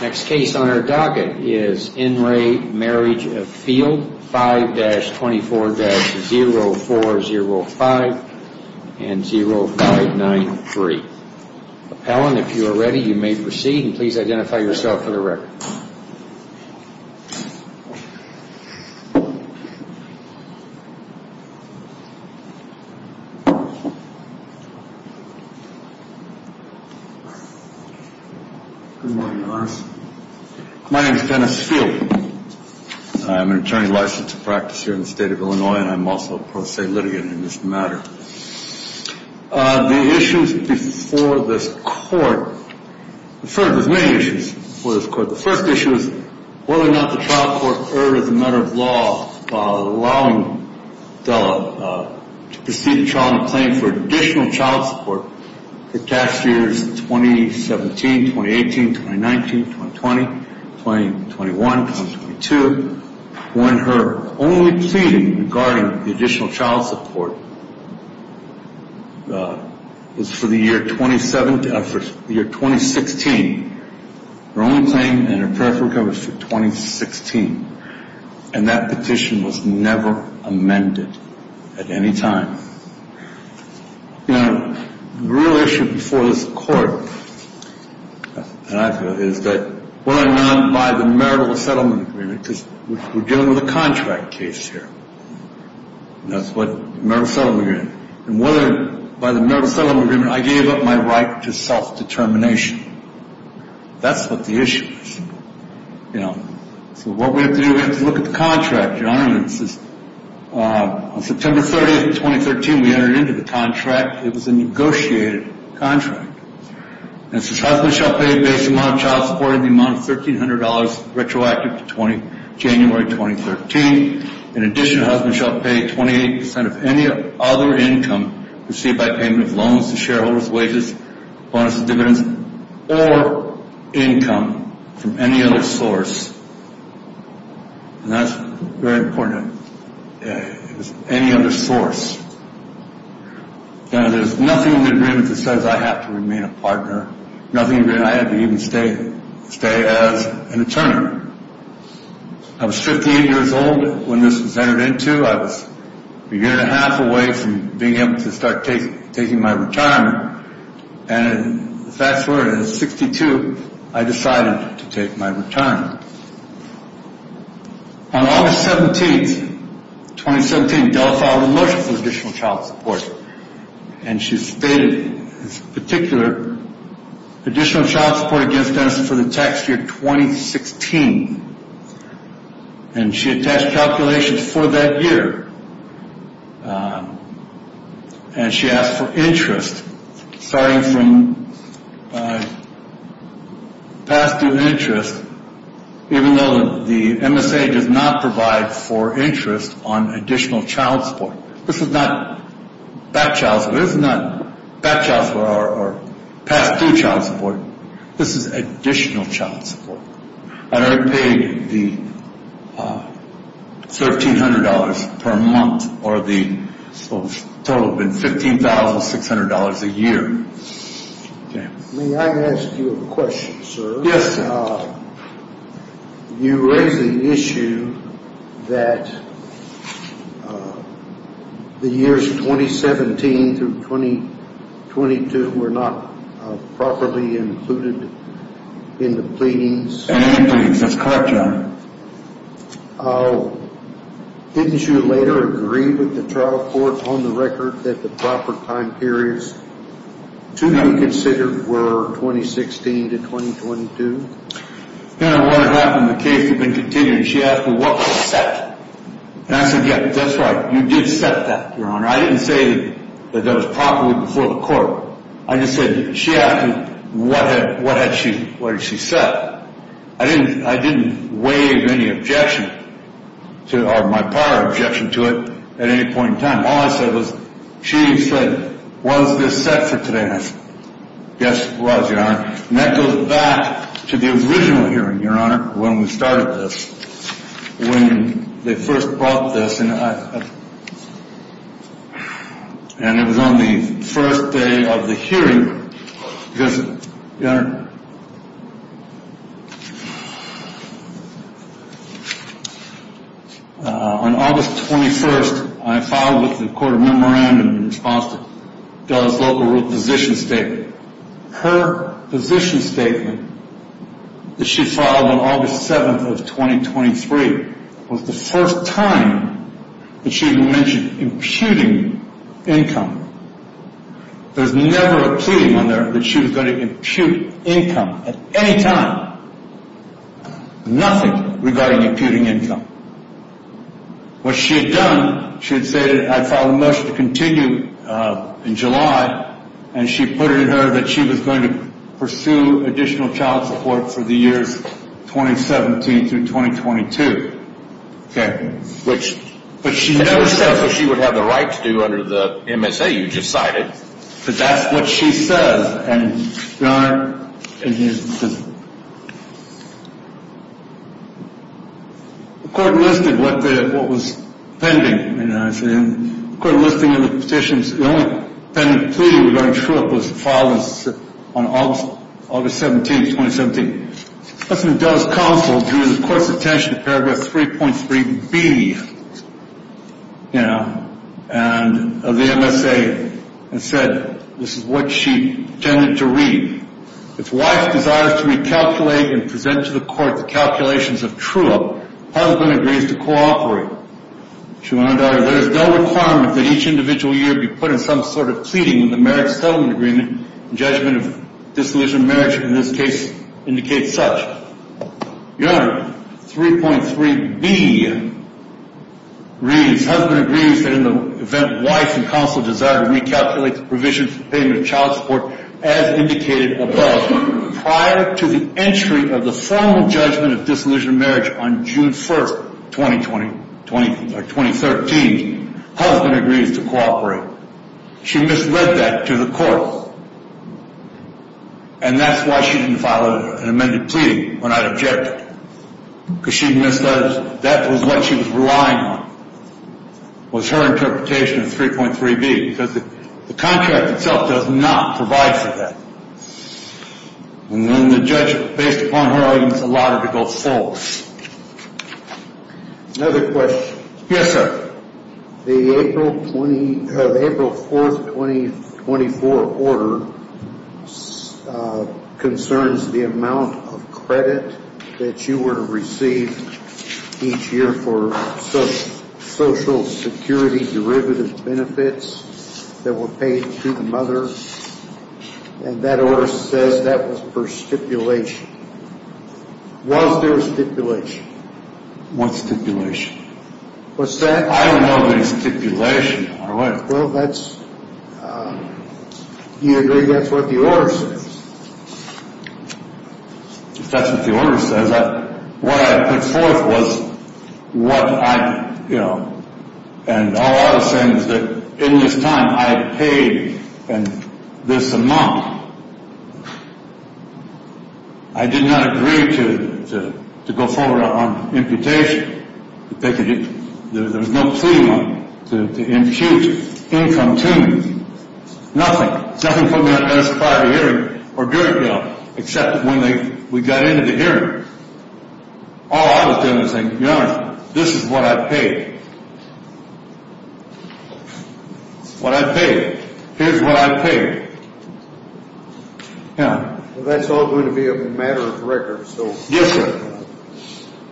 Next case on our docket is NRA Marriage of Field, 5-24-0405 and 0593. Appellant if you are ready you may proceed and please identify yourself for the record. My name is Dennis Field. I am an attorney licensed to practice here in the state of Illinois and I am also a pro se litigant in this matter. The issues before this court, there are many issues before this court. The first issue is whether or not the child court erred as a matter of law allowing to proceed a child in a claim for additional child support for past years 2017, 2018, 2019, 2020, 2021, 2022 when her only pleading regarding the additional child support was for the year 2016. Her only claim and her preference was for 2016 and that petition was never amended at any time. The real issue before this court is whether or not by the marital settlement agreement, because we are dealing with a contract case here. By the marital settlement agreement I gave up my right to self determination. That is what the issue is. What we have to do is look at the contract. On September 30, 2013 we entered into the contract. It was a negotiated contract. Husband shall pay a base amount of child support in the amount of $1300 retroactive to January 2013. In addition, husband shall pay 28% of any other income received by payment of loans to shareholders, wages, bonuses, dividends, or income from any other source. That is very important. Any other source. There is nothing in the agreement that says I have to remain a partner. I had to even stay as an attorney. I was 15 years old when this was entered into. I was a year and a half away from being able to start taking my retirement. In 1962 I decided to take my retirement. On August 17, 2017 Della filed a motion for additional child support. She stated in particular additional child support against us for the tax year 2016. She attached calculations for that year. She asked for interest starting from past due interest even though the MSA does not provide for interest on additional child support. This is not past due child support. This is additional child support. I already paid the $1300 per month or the total has been $15,600 a year. May I ask you a question, sir? Yes, sir. You raise the issue that the years 2017 through 2022 were not properly included in the pleadings. That is correct, John. Didn't you later agree with the trial court on the record that the proper time periods to be considered were 2016 to 2022? No, what had happened in the case had been continued. She asked me what was set. And I said, yes, that's right. You did set that, Your Honor. I didn't say that that was properly before the court. I just said she asked me what had she set. I didn't I didn't waive any objection to my power objection to it at any point in time. All I said was she said, was this set for today? Yes, it was, Your Honor. And that goes back to the original hearing, Your Honor. When we started this, when they first brought this in. And it was on the first day of the hearing, Your Honor. On August 21st, I filed with the court of memorandum in response to Della's local rule position statement. Her position statement that she filed on August 7th of 2023 was the first time that she had mentioned imputing income. There was never a plea on there that she was going to impute income at any time. Nothing regarding imputing income. What she had done, she had said that I filed a motion to continue in July. And she put it in her that she was going to pursue additional child support for the years 2017 through 2022. Which she never said she would have the right to do under the MSA you just cited. But that's what she says. And Your Honor, the court listed what was pending. The court listing of the petitions, the only pending plea was filed on August 17th, 2017. What's in Della's counsel drew the court's attention to paragraph 3.3B of the MSA. And said, this is what she intended to read. If wife desires to recalculate and present to the court the calculations of true up, husband agrees to cooperate. She went on to add, there is no requirement that each individual year be put in some sort of pleading in the marriage settlement agreement. Judgment of dissolution of marriage in this case indicates such. Your Honor, 3.3B reads, husband agrees that in the event wife and counsel desire to recalculate the provision for payment of child support as indicated above. Prior to the entry of the formal judgment of dissolution of marriage on June 1st, 2013, husband agrees to cooperate. She misled that to the court. And that's why she didn't file an amended plea when I objected. Because she misled us. That was what she was relying on, was her interpretation of 3.3B. Because the contract itself does not provide for that. And then the judge, based upon her arguments, allowed her to go full. Another question. Yes, sir. The April 4th, 2024 order concerns the amount of credit that you were to receive each year for social security derivative benefits that were paid to the mother. And that order says that was for stipulation. Was there stipulation? What stipulation? What's that? I don't know of any stipulation. Well, that's, do you agree that's what the order says? If that's what the order says, what I put forth was what I, you know, and all I was saying is that in this time I had paid this amount. I did not agree to go forward on imputation. There was no plea money to impute income to me. Nothing. Nothing put me on the bench prior to hearing or during hearing, except when we got into the hearing. All I was doing was saying, Your Honor, this is what I paid. What I paid. Here's what I paid. Yeah. Well, that's all going to be a matter of record, so. Yes, sir.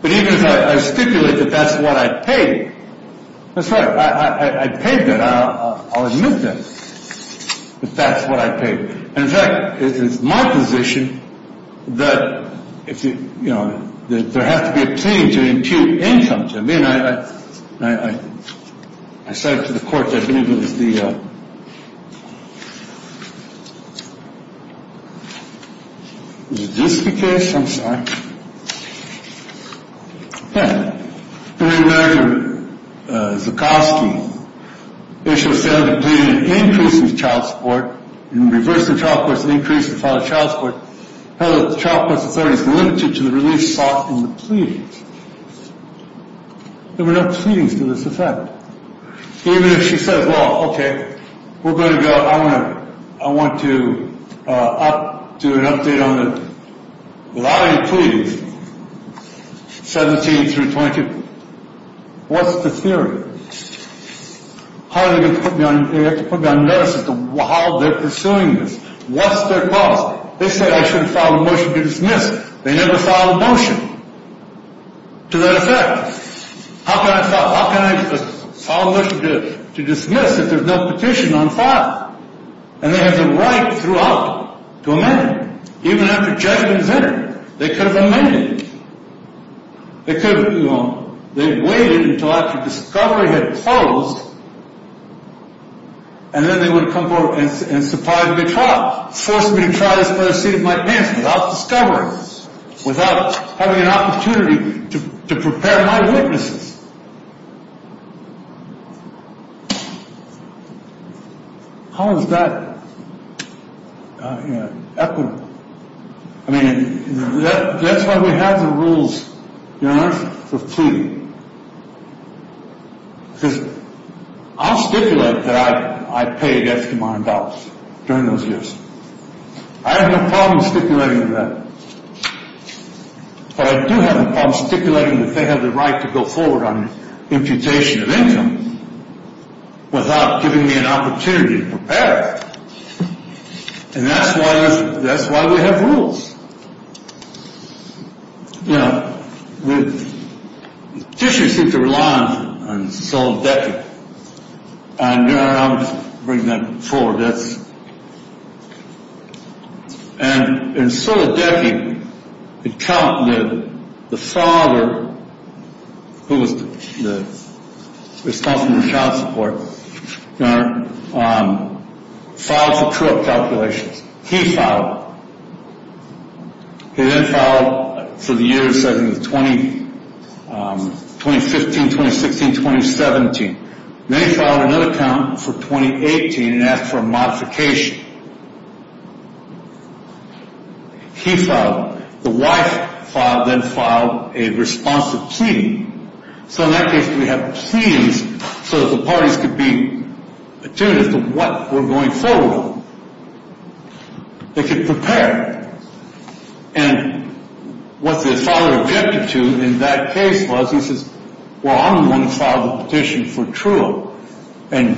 But even if I stipulate that that's what I paid. That's right. I paid that. I'll admit that. That's what I paid. In fact, it's my position that, you know, that there has to be a plea to impute income to me. I said to the court, I believe it was the. Is this the case? I'm sorry. I want to do an update on it. 17 through 20. What's the theory? How are they going to put me on notice as to how they're pursuing this? What's their cause? They said I should have filed a motion to dismiss. They never filed a motion to that effect. How can I file a motion to dismiss if there's no petition on file? And they have the right throughout to amend. Even after judgment is in it, they could have amended. They could have, you know, they waited until after discovery had closed. And then they would have come forward and supplied me a trial. Forced me to try this by the seat of my pants without discovery. Without having an opportunity to prepare my witnesses. How is that equitable? I mean, that's why we have the rules, you know, for pleading. Because I'll stipulate that I paid extra money in dollars during those years. I have no problem stipulating that. But I do have a problem stipulating that they have the right to go forward on imputation of income. Without giving me an opportunity to prepare. And that's why we have rules. You know, petitioners seem to rely on sole debt. And I'll bring that forward. And in sole debt, the account that the father, who was responsible for child support, filed for true up calculations. He filed. He then filed for the years, I think, 2015, 2016, 2017. Then he filed another account for 2018 and asked for a modification. He filed. The wife then filed a response of pleading. So in that case, we have scenes so that the parties could be attuned to what we're going forward with. They could prepare. And what the father objected to in that case was, he says, Well, I'm the one who filed the petition for true up. And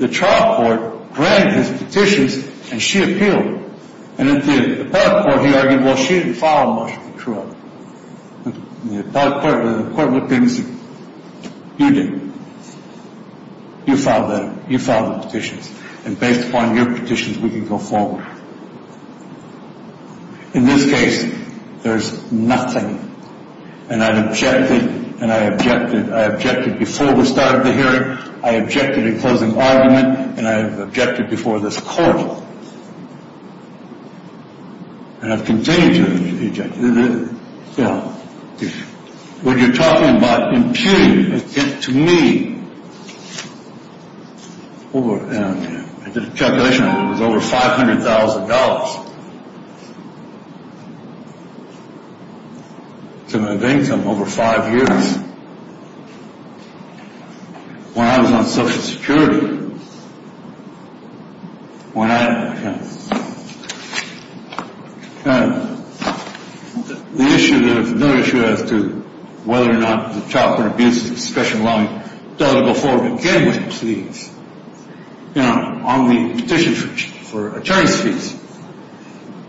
the trial court granted his petitions and she appealed. And at the appellate court, he argued, well, she didn't file much for true up. The appellate court looked at him and said, you did. You filed the petitions. And based upon your petitions, we can go forward. In this case, there's nothing. And I objected. And I objected. I objected before we started the hearing. I objected in closing argument. And I objected before this court. And I've continued to object. When you're talking about impugning, to me, I did a calculation. It was over $500,000 to my bank for over five years. When I was on Social Security, when I, you know, the issue of whether or not the trial court abused the discretion of the law, it doesn't go forward again with a plea. You know, on the petition for attorney's fees.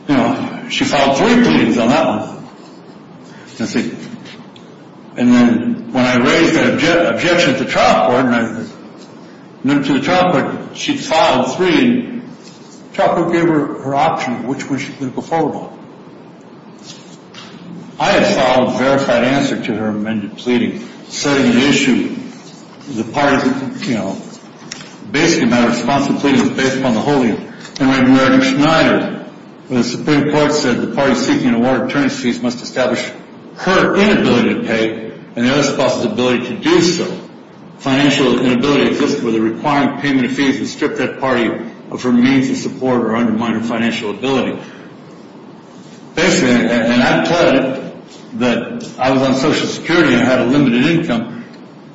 You know, she filed three pleas on that one. And then when I raised that objection to the trial court, she filed three. The trial court gave her her option of which one she could go forward with. I had filed a verified answer to her amended pleading, setting an issue. The parties, you know, basically my response to the plea was based upon the holding. And when Reagan-Schneider, when the Supreme Court said the parties seeking an award of attorney's fees must establish her inability to pay and the other spouse's ability to do so, financial inability exists for the requiring payment of fees and strip that party of her means of support or undermining financial ability. Basically, and I pledged that I was on Social Security and had a limited income.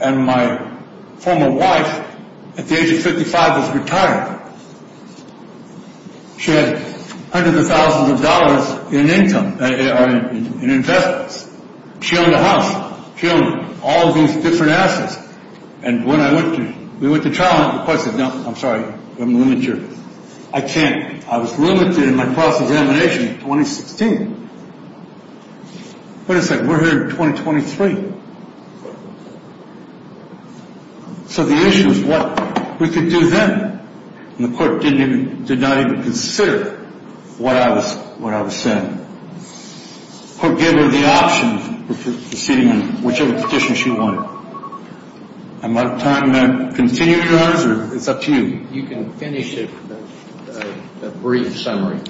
And my former wife at the age of 55 was retired. She had hundreds of thousands of dollars in income or in investments. She owned a house. She owned all these different assets. And when we went to trial, the court said, no, I'm sorry, you have a limited share. I can't. I was limited in my cross-examination in 2016. What is that? We're here in 2023. So the issue is what we could do then. And the court did not even consider what I was saying. The court gave her the option of proceeding on whichever petition she wanted. Am I out of time to continue, Charles, or is it up to you? You can finish a brief summary.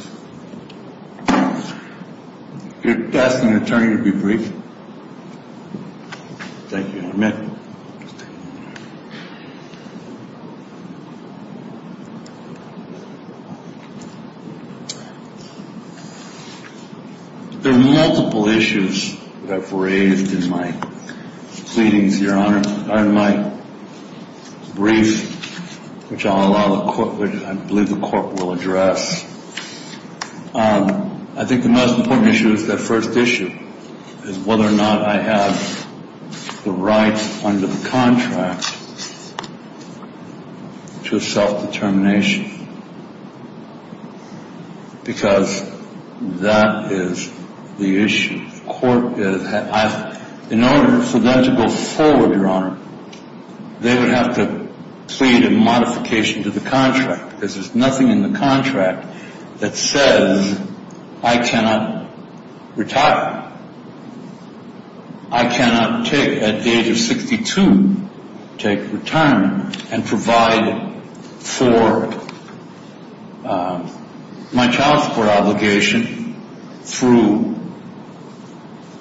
You're asking an attorney to be brief? Thank you. I'll admit. There are multiple issues that I've raised in my pleadings, Your Honor. In my brief, which I believe the court will address, I think the most important issue is that first issue, is whether or not I have the rights under the contract to self-determination. Because that is the issue. In order for them to go forward, Your Honor, they would have to plead a modification to the contract, because there's nothing in the contract that says I cannot retire. I cannot take, at the age of 62, take retirement and provide for my child support obligation through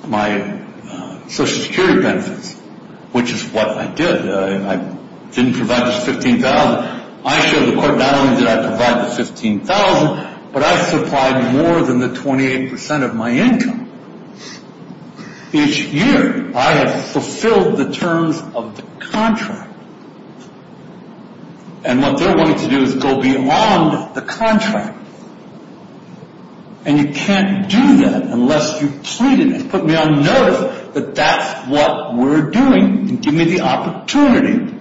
my Social Security benefits, which is what I did. I didn't provide the $15,000. I showed the court not only did I provide the $15,000, but I supplied more than the 28% of my income each year. I have fulfilled the terms of the contract. And what they're wanting to do is go beyond the contract. And you can't do that unless you've pleaded and put me on notice that that's what we're doing and give me the opportunity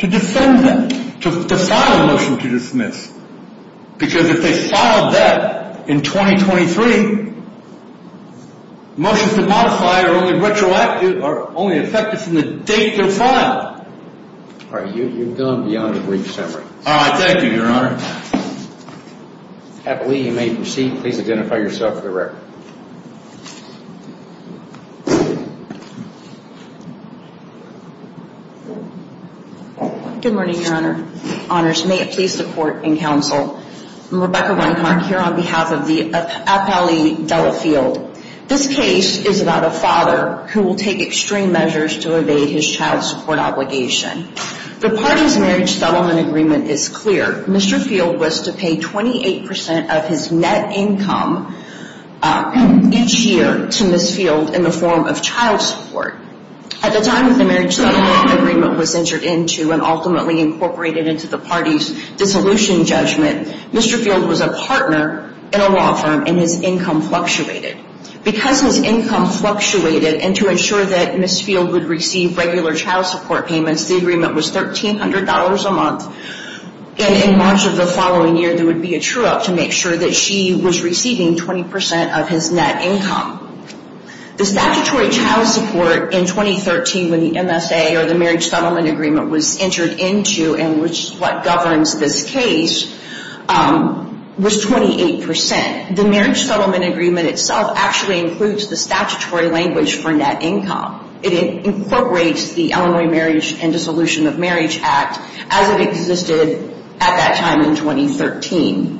to defend them, to file a motion to dismiss. Because if they filed that in 2023, motions to modify are only effective from the date they're filed. All right. You've gone beyond a brief summary. All right. Thank you, Your Honor. Happily, you may proceed. Please identify yourself for the record. Good morning, Your Honor. May it please the Court and counsel, I'm Rebecca Reinhart here on behalf of the Appellee Della Field. This case is about a father who will take extreme measures to evade his child support obligation. The party's marriage settlement agreement is clear. Mr. Field was to pay 28% of his net income each year to Ms. Field in the form of child support. At the time that the marriage settlement agreement was entered into and ultimately incorporated into the party's dissolution judgment, Mr. Field was a partner in a law firm and his income fluctuated. Because his income fluctuated, and to ensure that Ms. Field would receive regular child support payments, the agreement was $1,300 a month, and in March of the following year there would be a true-up to make sure that she was receiving 20% of his net income. The statutory child support in 2013 when the MSA or the marriage settlement agreement was entered into and which is what governs this case, was 28%. The marriage settlement agreement itself actually includes the statutory language for net income. It incorporates the Illinois Marriage and Dissolution of Marriage Act as it existed at that time in 2013.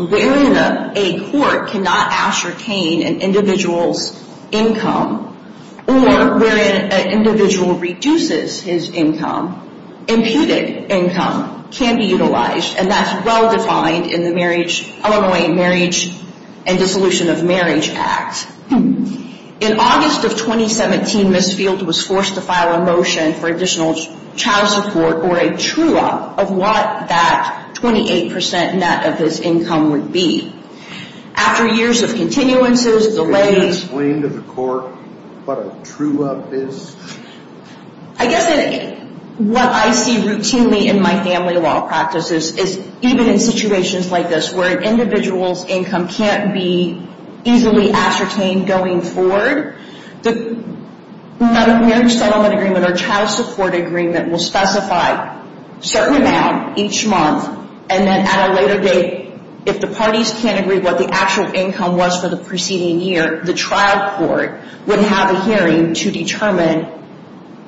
Wherein a court cannot ascertain an individual's income or wherein an individual reduces his income, imputed income can be utilized, and that's well-defined in the Illinois Marriage and Dissolution of Marriage Act. In August of 2017, Ms. Field was forced to file a motion for additional child support or a true-up of what that 28% net of his income would be. After years of continuances, delays... Can you explain to the court what a true-up is? I guess what I see routinely in my family law practice is even in situations like this where an individual's income can't be easily ascertained going forward, the marriage settlement agreement or child support agreement will specify a certain amount each month and then at a later date, if the parties can't agree what the actual income was for the preceding year, the trial court would have a hearing to determine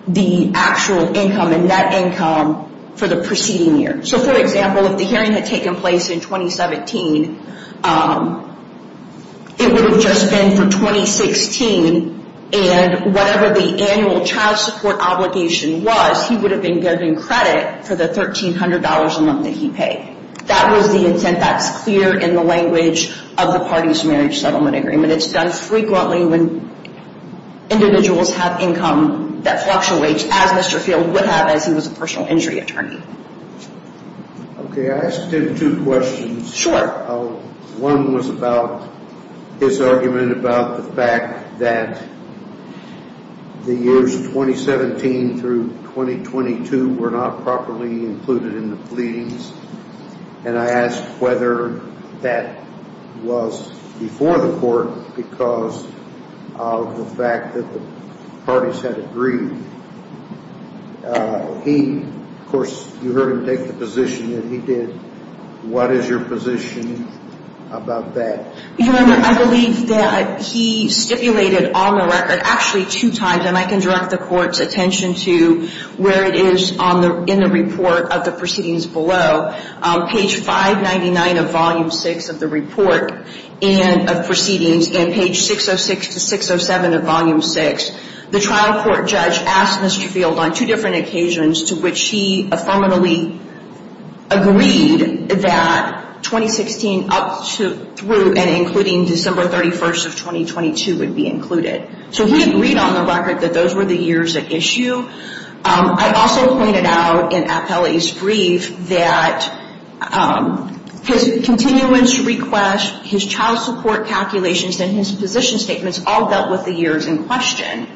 the actual income and net income for the preceding year. So, for example, if the hearing had taken place in 2017, it would have just been for 2016 and whatever the annual child support obligation was, he would have been given credit for the $1,300 a month that he paid. That was the intent. That's clear in the language of the parties' marriage settlement agreement. It's done frequently when individuals have income that fluctuates, as Mr. Field would have as he was a personal injury attorney. Okay, I asked him two questions. Sure. One was about his argument about the fact that the years 2017 through 2022 were not properly included in the pleadings, and I asked whether that was before the court because of the fact that the parties had agreed. He, of course, you heard him take the position that he did. What is your position about that? I believe that he stipulated on the record actually two times, and I can direct the court's attention to where it is in the report of the proceedings below. Page 599 of Volume 6 of the report of proceedings, and page 606 to 607 of Volume 6, the trial court judge asked Mr. Field on two different occasions to which he affirmatively agreed that 2016 up through and including December 31st of 2022 would be included. So we agreed on the record that those were the years at issue. I also pointed out in Appellee's brief that his continuance request, his child support calculations, and his position statements all dealt with the years in question.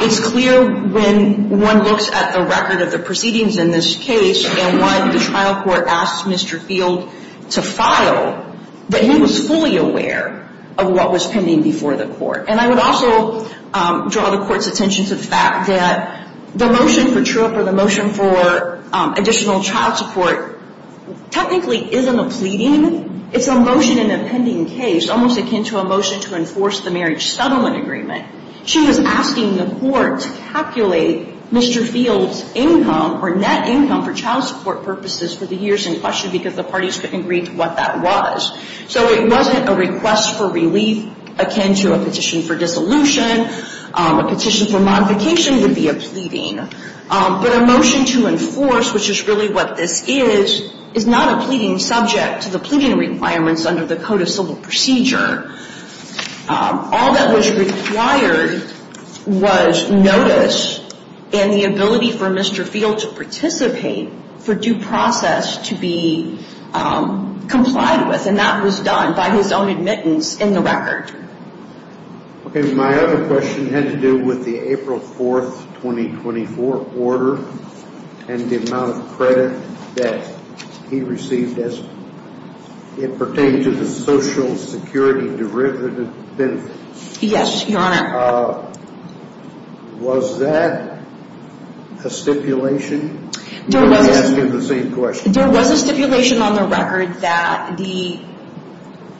It's clear when one looks at the record of the proceedings in this case and why the trial court asked Mr. Field to file that he was fully aware of what was pending before the court, and I would also draw the court's attention to the fact that the motion for TRIP or the motion for additional child support technically isn't a pleading. It's a motion in a pending case, almost akin to a motion to enforce the marriage settlement agreement. She was asking the court to calculate Mr. Field's income or net income for child support purposes for the years in question because the parties couldn't agree to what that was. So it wasn't a request for relief akin to a petition for dissolution. A petition for modification would be a pleading. But a motion to enforce, which is really what this is, is not a pleading subject to the pleading requirements under the Code of Civil Procedure. All that was required was notice and the ability for Mr. Field to participate for due process to be complied with, and that was done by his own admittance in the record. Okay, my other question had to do with the April 4, 2024 order and the amount of credit that he received as it pertained to the Social Security derivative benefit. Yes, Your Honor. Was that a stipulation? You're asking the same question. There was a stipulation on the record that the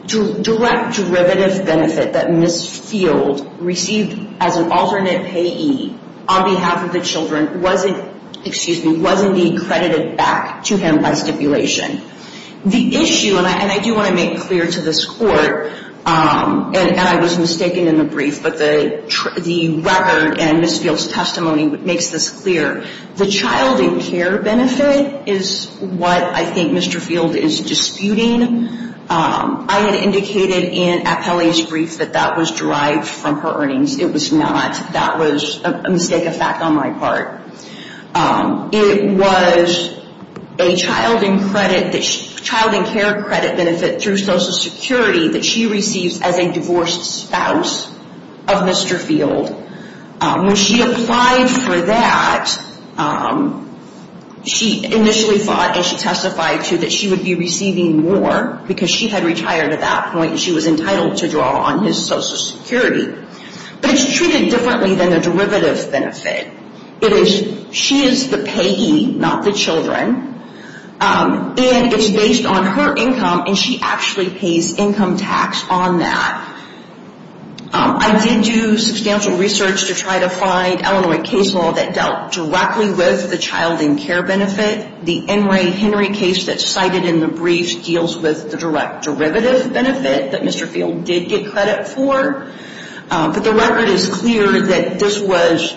direct derivative benefit that Ms. Field received as an alternate payee on behalf of the children was indeed credited back to him by stipulation. The issue, and I do want to make clear to this Court, and I was mistaken in the brief, but the record and Ms. Field's testimony makes this clear. The child and care benefit is what I think Mr. Field is disputing. I had indicated in Appelli's brief that that was derived from her earnings. It was not. That was a mistake of fact on my part. It was a child and care credit benefit through Social Security that she receives as a divorced spouse of Mr. Field. When she applied for that, she initially thought, and she testified too, that she would be receiving more because she had retired at that point and she was entitled to draw on his Social Security. But it's treated differently than the derivative benefit. She is the payee, not the children, and it's based on her income, and she actually pays income tax on that. I did do substantial research to try to find Illinois case law that dealt directly with the child and care benefit. The Henry Henry case that's cited in the brief deals with the direct derivative benefit that Mr. Field did get credit for. But the record is clear that this was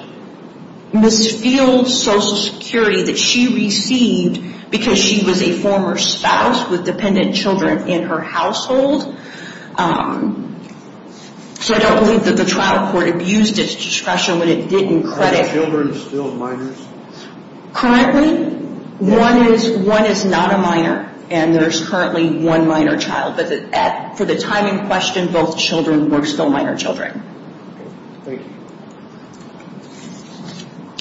Ms. Field's Social Security that she received because she was a former spouse with dependent children in her household. So I don't believe that the trial court abused its discretion when it didn't credit. Are the children still minors? Currently, one is not a minor, and there is currently one minor child. But for the time in question, both children were still minor children.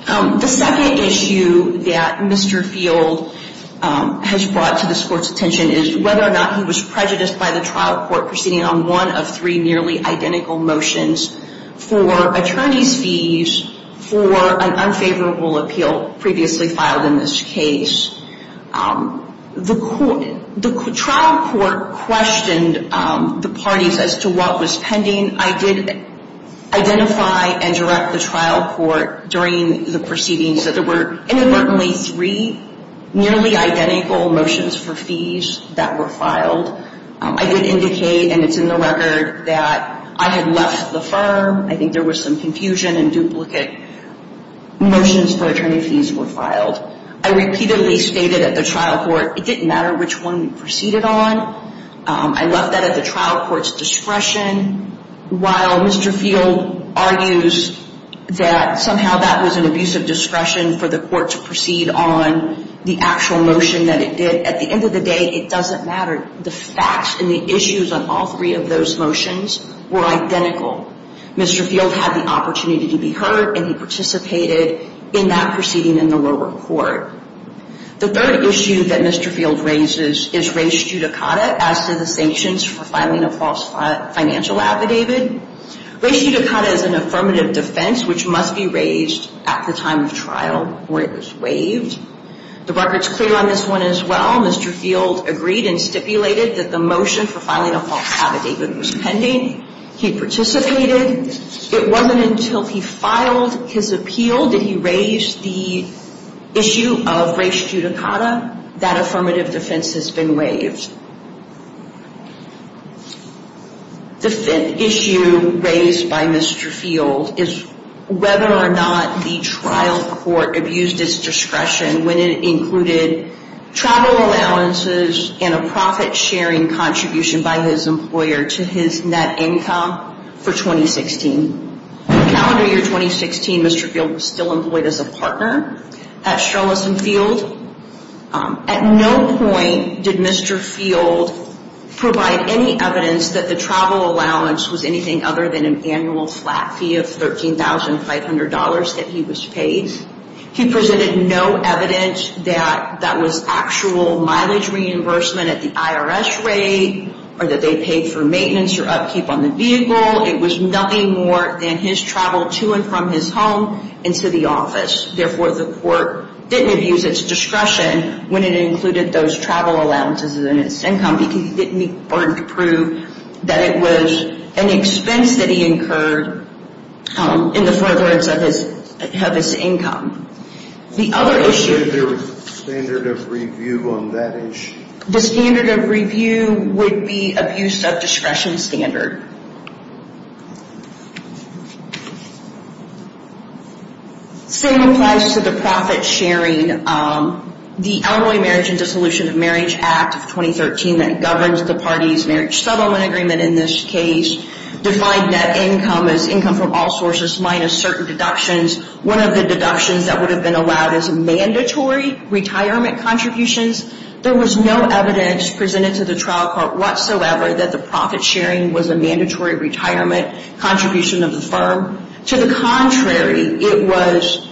The second issue that Mr. Field has brought to this Court's attention is whether or not he was prejudiced by the trial court proceeding on one of three nearly identical motions for attorney's fees for an unfavorable appeal previously filed in this case. The trial court questioned the parties as to what was pending. I did identify and direct the trial court during the proceedings that there were inadvertently three nearly identical motions for fees that were filed. I did indicate, and it's in the record, that I had left the firm. I think there was some confusion and duplicate motions for attorney fees were filed. I repeatedly stated at the trial court, it didn't matter which one we proceeded on. I left that at the trial court's discretion. While Mr. Field argues that somehow that was an abusive discretion for the court to proceed on the actual motion that it did, at the end of the day, it doesn't matter. The facts and the issues on all three of those motions were identical. Mr. Field had the opportunity to be heard, and he participated in that proceeding in the lower court. The third issue that Mr. Field raises is res judicata, as to the sanctions for filing a false financial affidavit. Res judicata is an affirmative defense, which must be raised at the time of trial where it was waived. The record's clear on this one as well. Mr. Field agreed and stipulated that the motion for filing a false affidavit was pending. He participated. It wasn't until he filed his appeal that he raised the issue of res judicata. That affirmative defense has been waived. The fifth issue raised by Mr. Field is whether or not the trial court abused its discretion when it included travel allowances and a profit-sharing contribution by his employer to his net income for 2016. In the calendar year 2016, Mr. Field was still employed as a partner at Sherlison Field. At no point did Mr. Field provide any evidence that the travel allowance was anything other than an annual flat fee of $13,500 that he was paid. He presented no evidence that that was actual mileage reimbursement at the IRS rate or that they paid for maintenance or upkeep on the vehicle. It was nothing more than his travel to and from his home and to the office. Therefore, the court didn't abuse its discretion when it included those travel allowances in its income because it didn't prove that it was an expense that he incurred in the furtherance of his income. The other issue... What is the standard of review on that issue? The standard of review would be abuse of discretion standard. Same applies to the profit-sharing. The Elmwood Marriage and Dissolution of Marriage Act of 2013 that governs the party's marriage settlement agreement in this case defined net income as income from all sources minus certain deductions. One of the deductions that would have been allowed is mandatory retirement contributions. There was no evidence presented to the trial court whatsoever that the profit-sharing was a mandatory retirement contribution of the firm. To the contrary, it was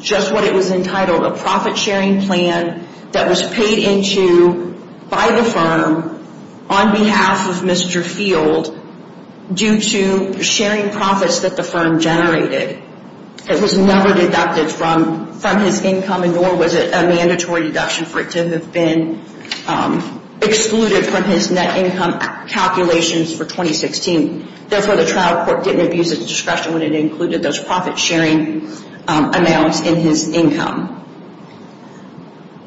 just what it was entitled, a profit-sharing plan that was paid into by the firm on behalf of Mr. Field due to sharing profits that the firm generated. It was never deducted from his income nor was it a mandatory deduction for it to have been excluded from his net income calculations for 2016. Therefore, the trial court didn't abuse its discretion when it included those profit-sharing amounts in his income.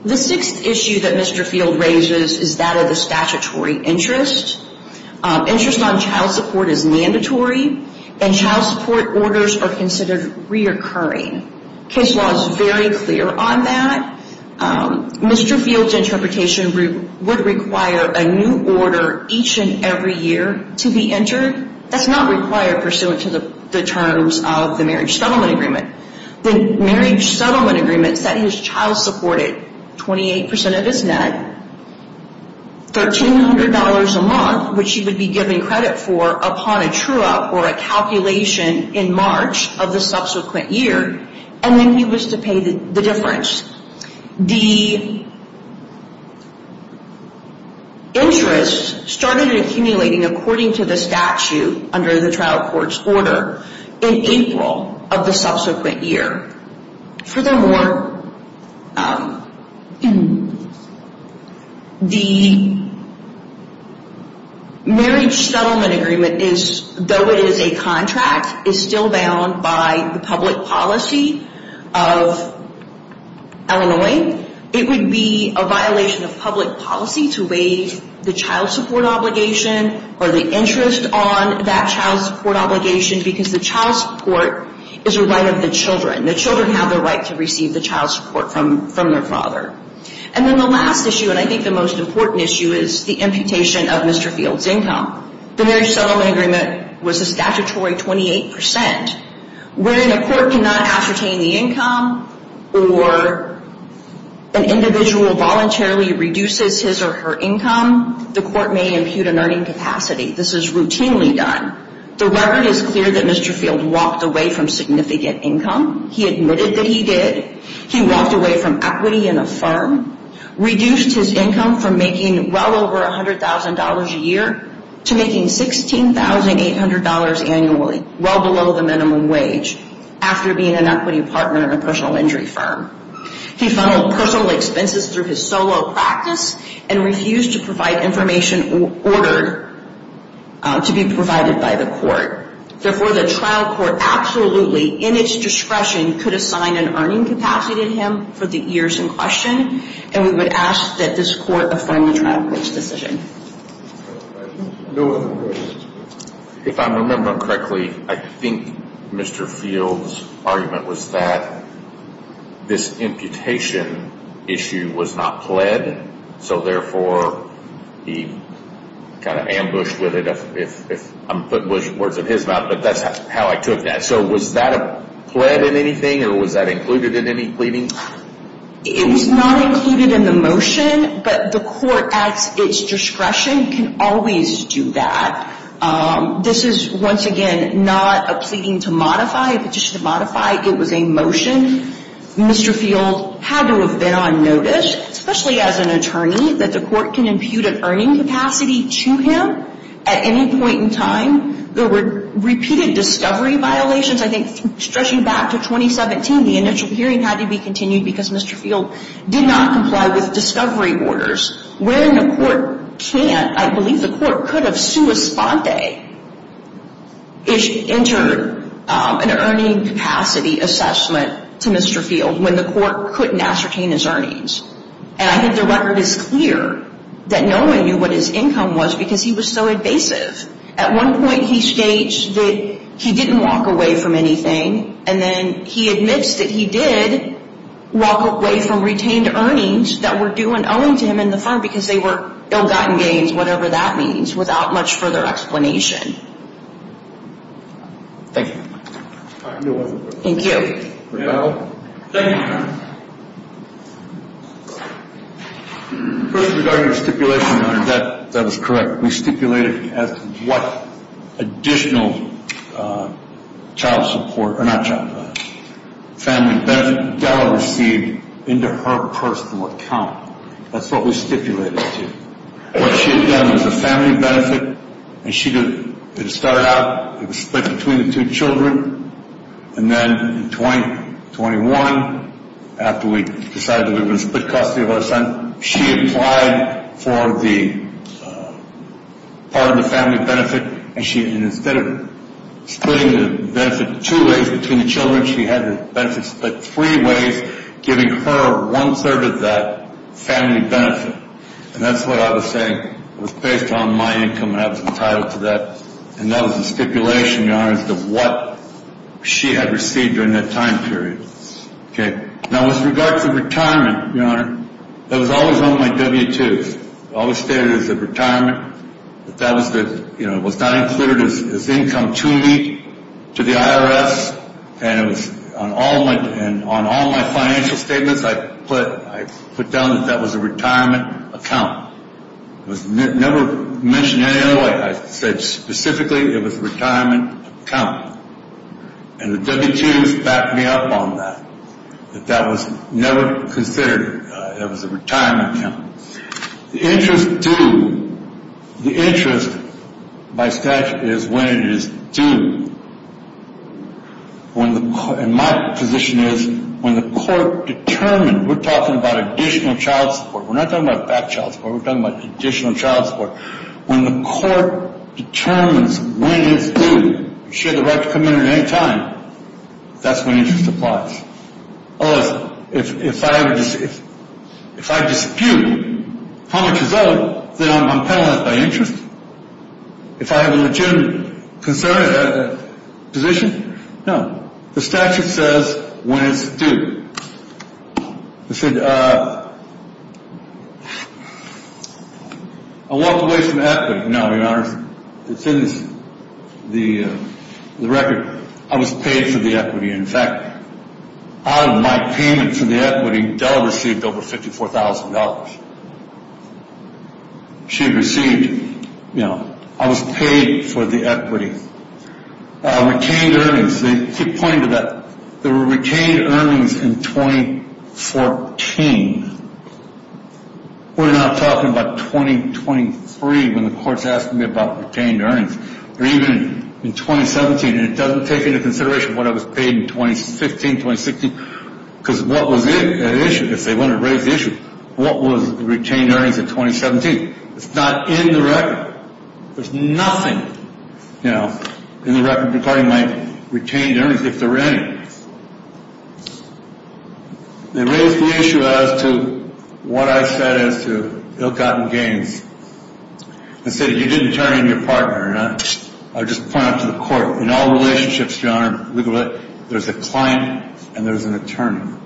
The sixth issue that Mr. Field raises is that of the statutory interest. Interest on child support is mandatory and child support orders are considered reoccurring. Case law is very clear on that. Mr. Field's interpretation would require a new order each and every year to be entered. That's not required pursuant to the terms of the marriage settlement agreement. The marriage settlement agreement said his child supported 28% of his net, $1,300 a month, which he would be given credit for upon a true-up or a calculation in March of the subsequent year, and then he was to pay the difference. The interest started accumulating according to the statute under the trial court's order in April of the subsequent year. Furthermore, the marriage settlement agreement, though it is a contract, is still bound by the public policy of Illinois. It would be a violation of public policy to waive the child support obligation or the interest on that child support obligation because the child support is a right of the children. The children have the right to receive the child support from their father. And then the last issue, and I think the most important issue, is the imputation of Mr. Field's income. The marriage settlement agreement was a statutory 28%. When a court cannot ascertain the income or an individual voluntarily reduces his or her income, the court may impute an earning capacity. This is routinely done. The record is clear that Mr. Field walked away from significant income. He admitted that he did. He walked away from equity in a firm, reduced his income from making well over $100,000 a year to making $16,800 annually, well below the minimum wage, after being an equity partner in a personal injury firm. He funneled personal expenses through his solo practice and refused to provide information ordered to be provided by the court. Therefore, the trial court absolutely, in its discretion, could assign an earning capacity to him for the years in question, and we would ask that this court affirm the trial court's decision. If I remember correctly, I think Mr. Field's argument was that this imputation issue was not pled, so therefore he kind of ambushed with it, if I'm putting words in his mouth, but that's how I took that. So was that a pled in anything, or was that included in any pleading? It was not included in the motion, but the court, at its discretion, can always do that. This is, once again, not a pleading to modify, a petition to modify. It was a motion. Mr. Field had to have been on notice, especially as an attorney, that the court can impute an earning capacity to him at any point in time. There were repeated discovery violations. I think stretching back to 2017, the initial hearing had to be continued because Mr. Field did not comply with discovery orders, wherein the court can't. I believe the court could have sua sponte-ish entered an earning capacity assessment to Mr. Field when the court couldn't ascertain his earnings, and I think the record is clear that no one knew what his income was because he was so evasive. At one point, he states that he didn't walk away from anything, and then he admits that he did walk away from retained earnings that were due and owing to him in the firm because they were ill-gotten gains, whatever that means, without much further explanation. Thank you. Thank you. Thank you. First, regarding the stipulation on her debt, that is correct. We stipulated as to what additional child support, or not child support, family benefit Gala received into her personal account. That's what we stipulated to. What she had done was a family benefit, and it started out, it was split between the two children, and then in 2021, after we decided that we were going to split custody of our son, she applied for part of the family benefit, and instead of splitting the benefit two ways between the children, she had to split three ways, giving her one-third of that family benefit, and that's what I was saying. It was based on my income, and I was entitled to that, and that was the stipulation, Your Honor, as to what she had received during that time period. Okay. Now, with regard to retirement, Your Honor, it was always on my W-2s. It was always stated as a retirement, but that was not included as income too weak to the IRS, and it was on all my financial statements, I put down that that was a retirement account. It was never mentioned any other way. I said specifically it was a retirement account, and the W-2s backed me up on that, that that was never considered. It was a retirement account. The interest due. The interest by statute is when it is due. And my position is when the court determines. We're talking about additional child support. We're not talking about back child support. We're talking about additional child support. When the court determines when it's due, if she had the right to come in at any time, that's when interest applies. If I dispute how much is owed, then I'm penalized by interest. If I have a legitimate position, no. The statute says when it's due. I said I walked away from equity. No, Your Honor, it's in the record. I was paid for the equity. In fact, out of my payment for the equity, Dell received over $54,000. She received, you know, I was paid for the equity. Retained earnings. They keep pointing to that. There were retained earnings in 2014. We're not talking about 2023 when the court's asking me about retained earnings. Or even in 2017. And it doesn't take into consideration what I was paid in 2015, 2016. Because what was at issue? If they want to raise the issue, what was retained earnings in 2017? It's not in the record. There's nothing, you know, in the record regarding my retained earnings, if there were any. They raised the issue as to what I said as to ill-gotten gains. I said if you didn't turn in your partner, and I'll just point out to the court, in all relationships, Your Honor, there's a client and there's an attorney.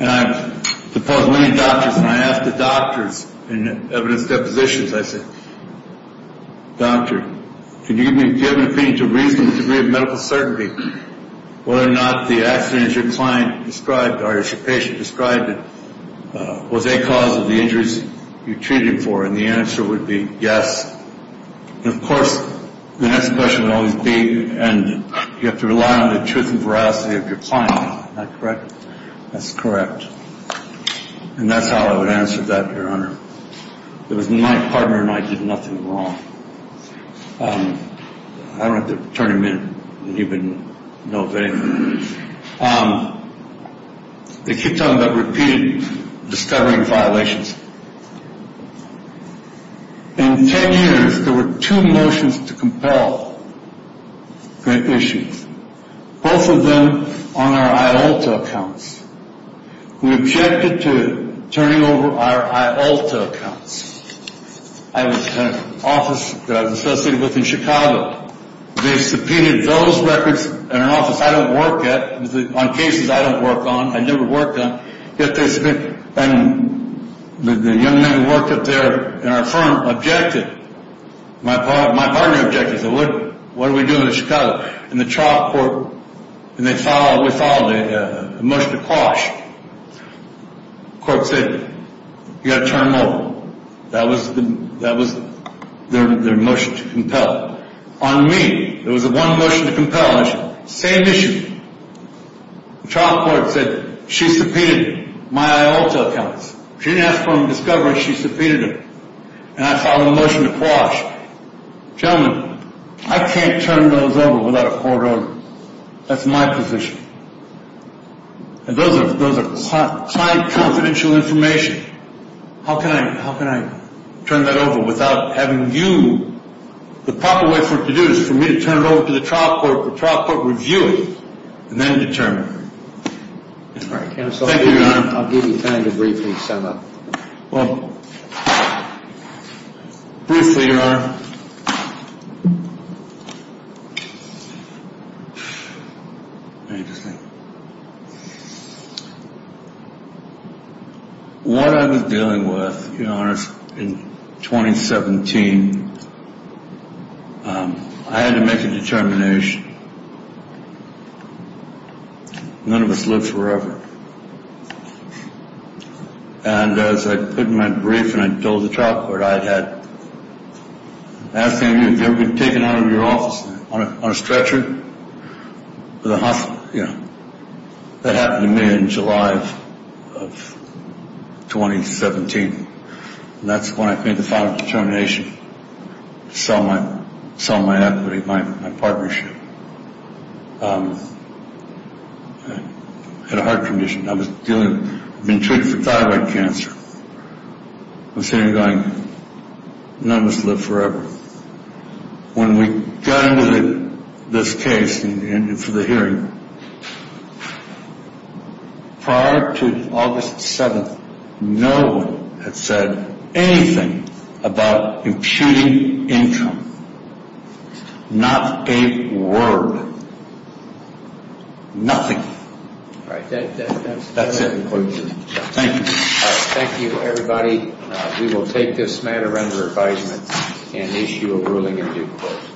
And I've deposed many doctors, and I asked the doctors in evidence depositions, I said, doctor, can you give me an opinion to reason the degree of medical certainty whether or not the accident your client described or your patient described was a cause of the injuries you're treating for? And the answer would be yes. And, of course, the next question would always be, and you have to rely on the truth and veracity of your client. Am I correct? That's correct. And that's how I would answer that, Your Honor. It was my partner, and I did nothing wrong. I don't have to turn him in, even, you know, if anything. They keep talking about repeated discovering violations. In ten years, there were two motions to compel great issues, both of them on our IALTA accounts. We objected to turning over our IALTA accounts. I had an office that I was associated with in Chicago. They subpoenaed those records in our office. I don't work at, on cases I don't work on. I never worked on. And the young man who worked up there in our firm objected. My partner objected. He said, what are we doing in Chicago? And the trial court, and we filed a motion to quash. The court said, you've got to turn them over. That was their motion to compel. On me, there was one motion to compel. Same issue. The trial court said she subpoenaed my IALTA accounts. She didn't ask for them in discovery. She subpoenaed them. And I filed a motion to quash. Gentlemen, I can't turn those over without a court order. That's my position. And those are confidential information. How can I turn that over without having you? The proper way for it to do it is for me to turn it over to the trial court, the trial court review it, and then determine. Thank you, Your Honor. I'll give you time to briefly sum up. Well, briefly, Your Honor. Interesting. What I was dealing with, Your Honor, in 2017, I had to make a determination. None of us lived forever. And as I put in my brief and I told the trial court, I had asked them, have you ever been taken out of your office on a stretcher? Yeah. That happened to me in July of 2017. And that's when I made the final determination to sell my equity, my partnership. I had a heart condition. I was being treated for thyroid cancer. I was sitting there going, none of us lived forever. When we got into this case for the hearing, prior to August 7th, no one had said anything about imputing income. Not a word. Nothing. All right. That's it. Thank you. Thank you, everybody. We will take this matter under advisement and issue a ruling in due course.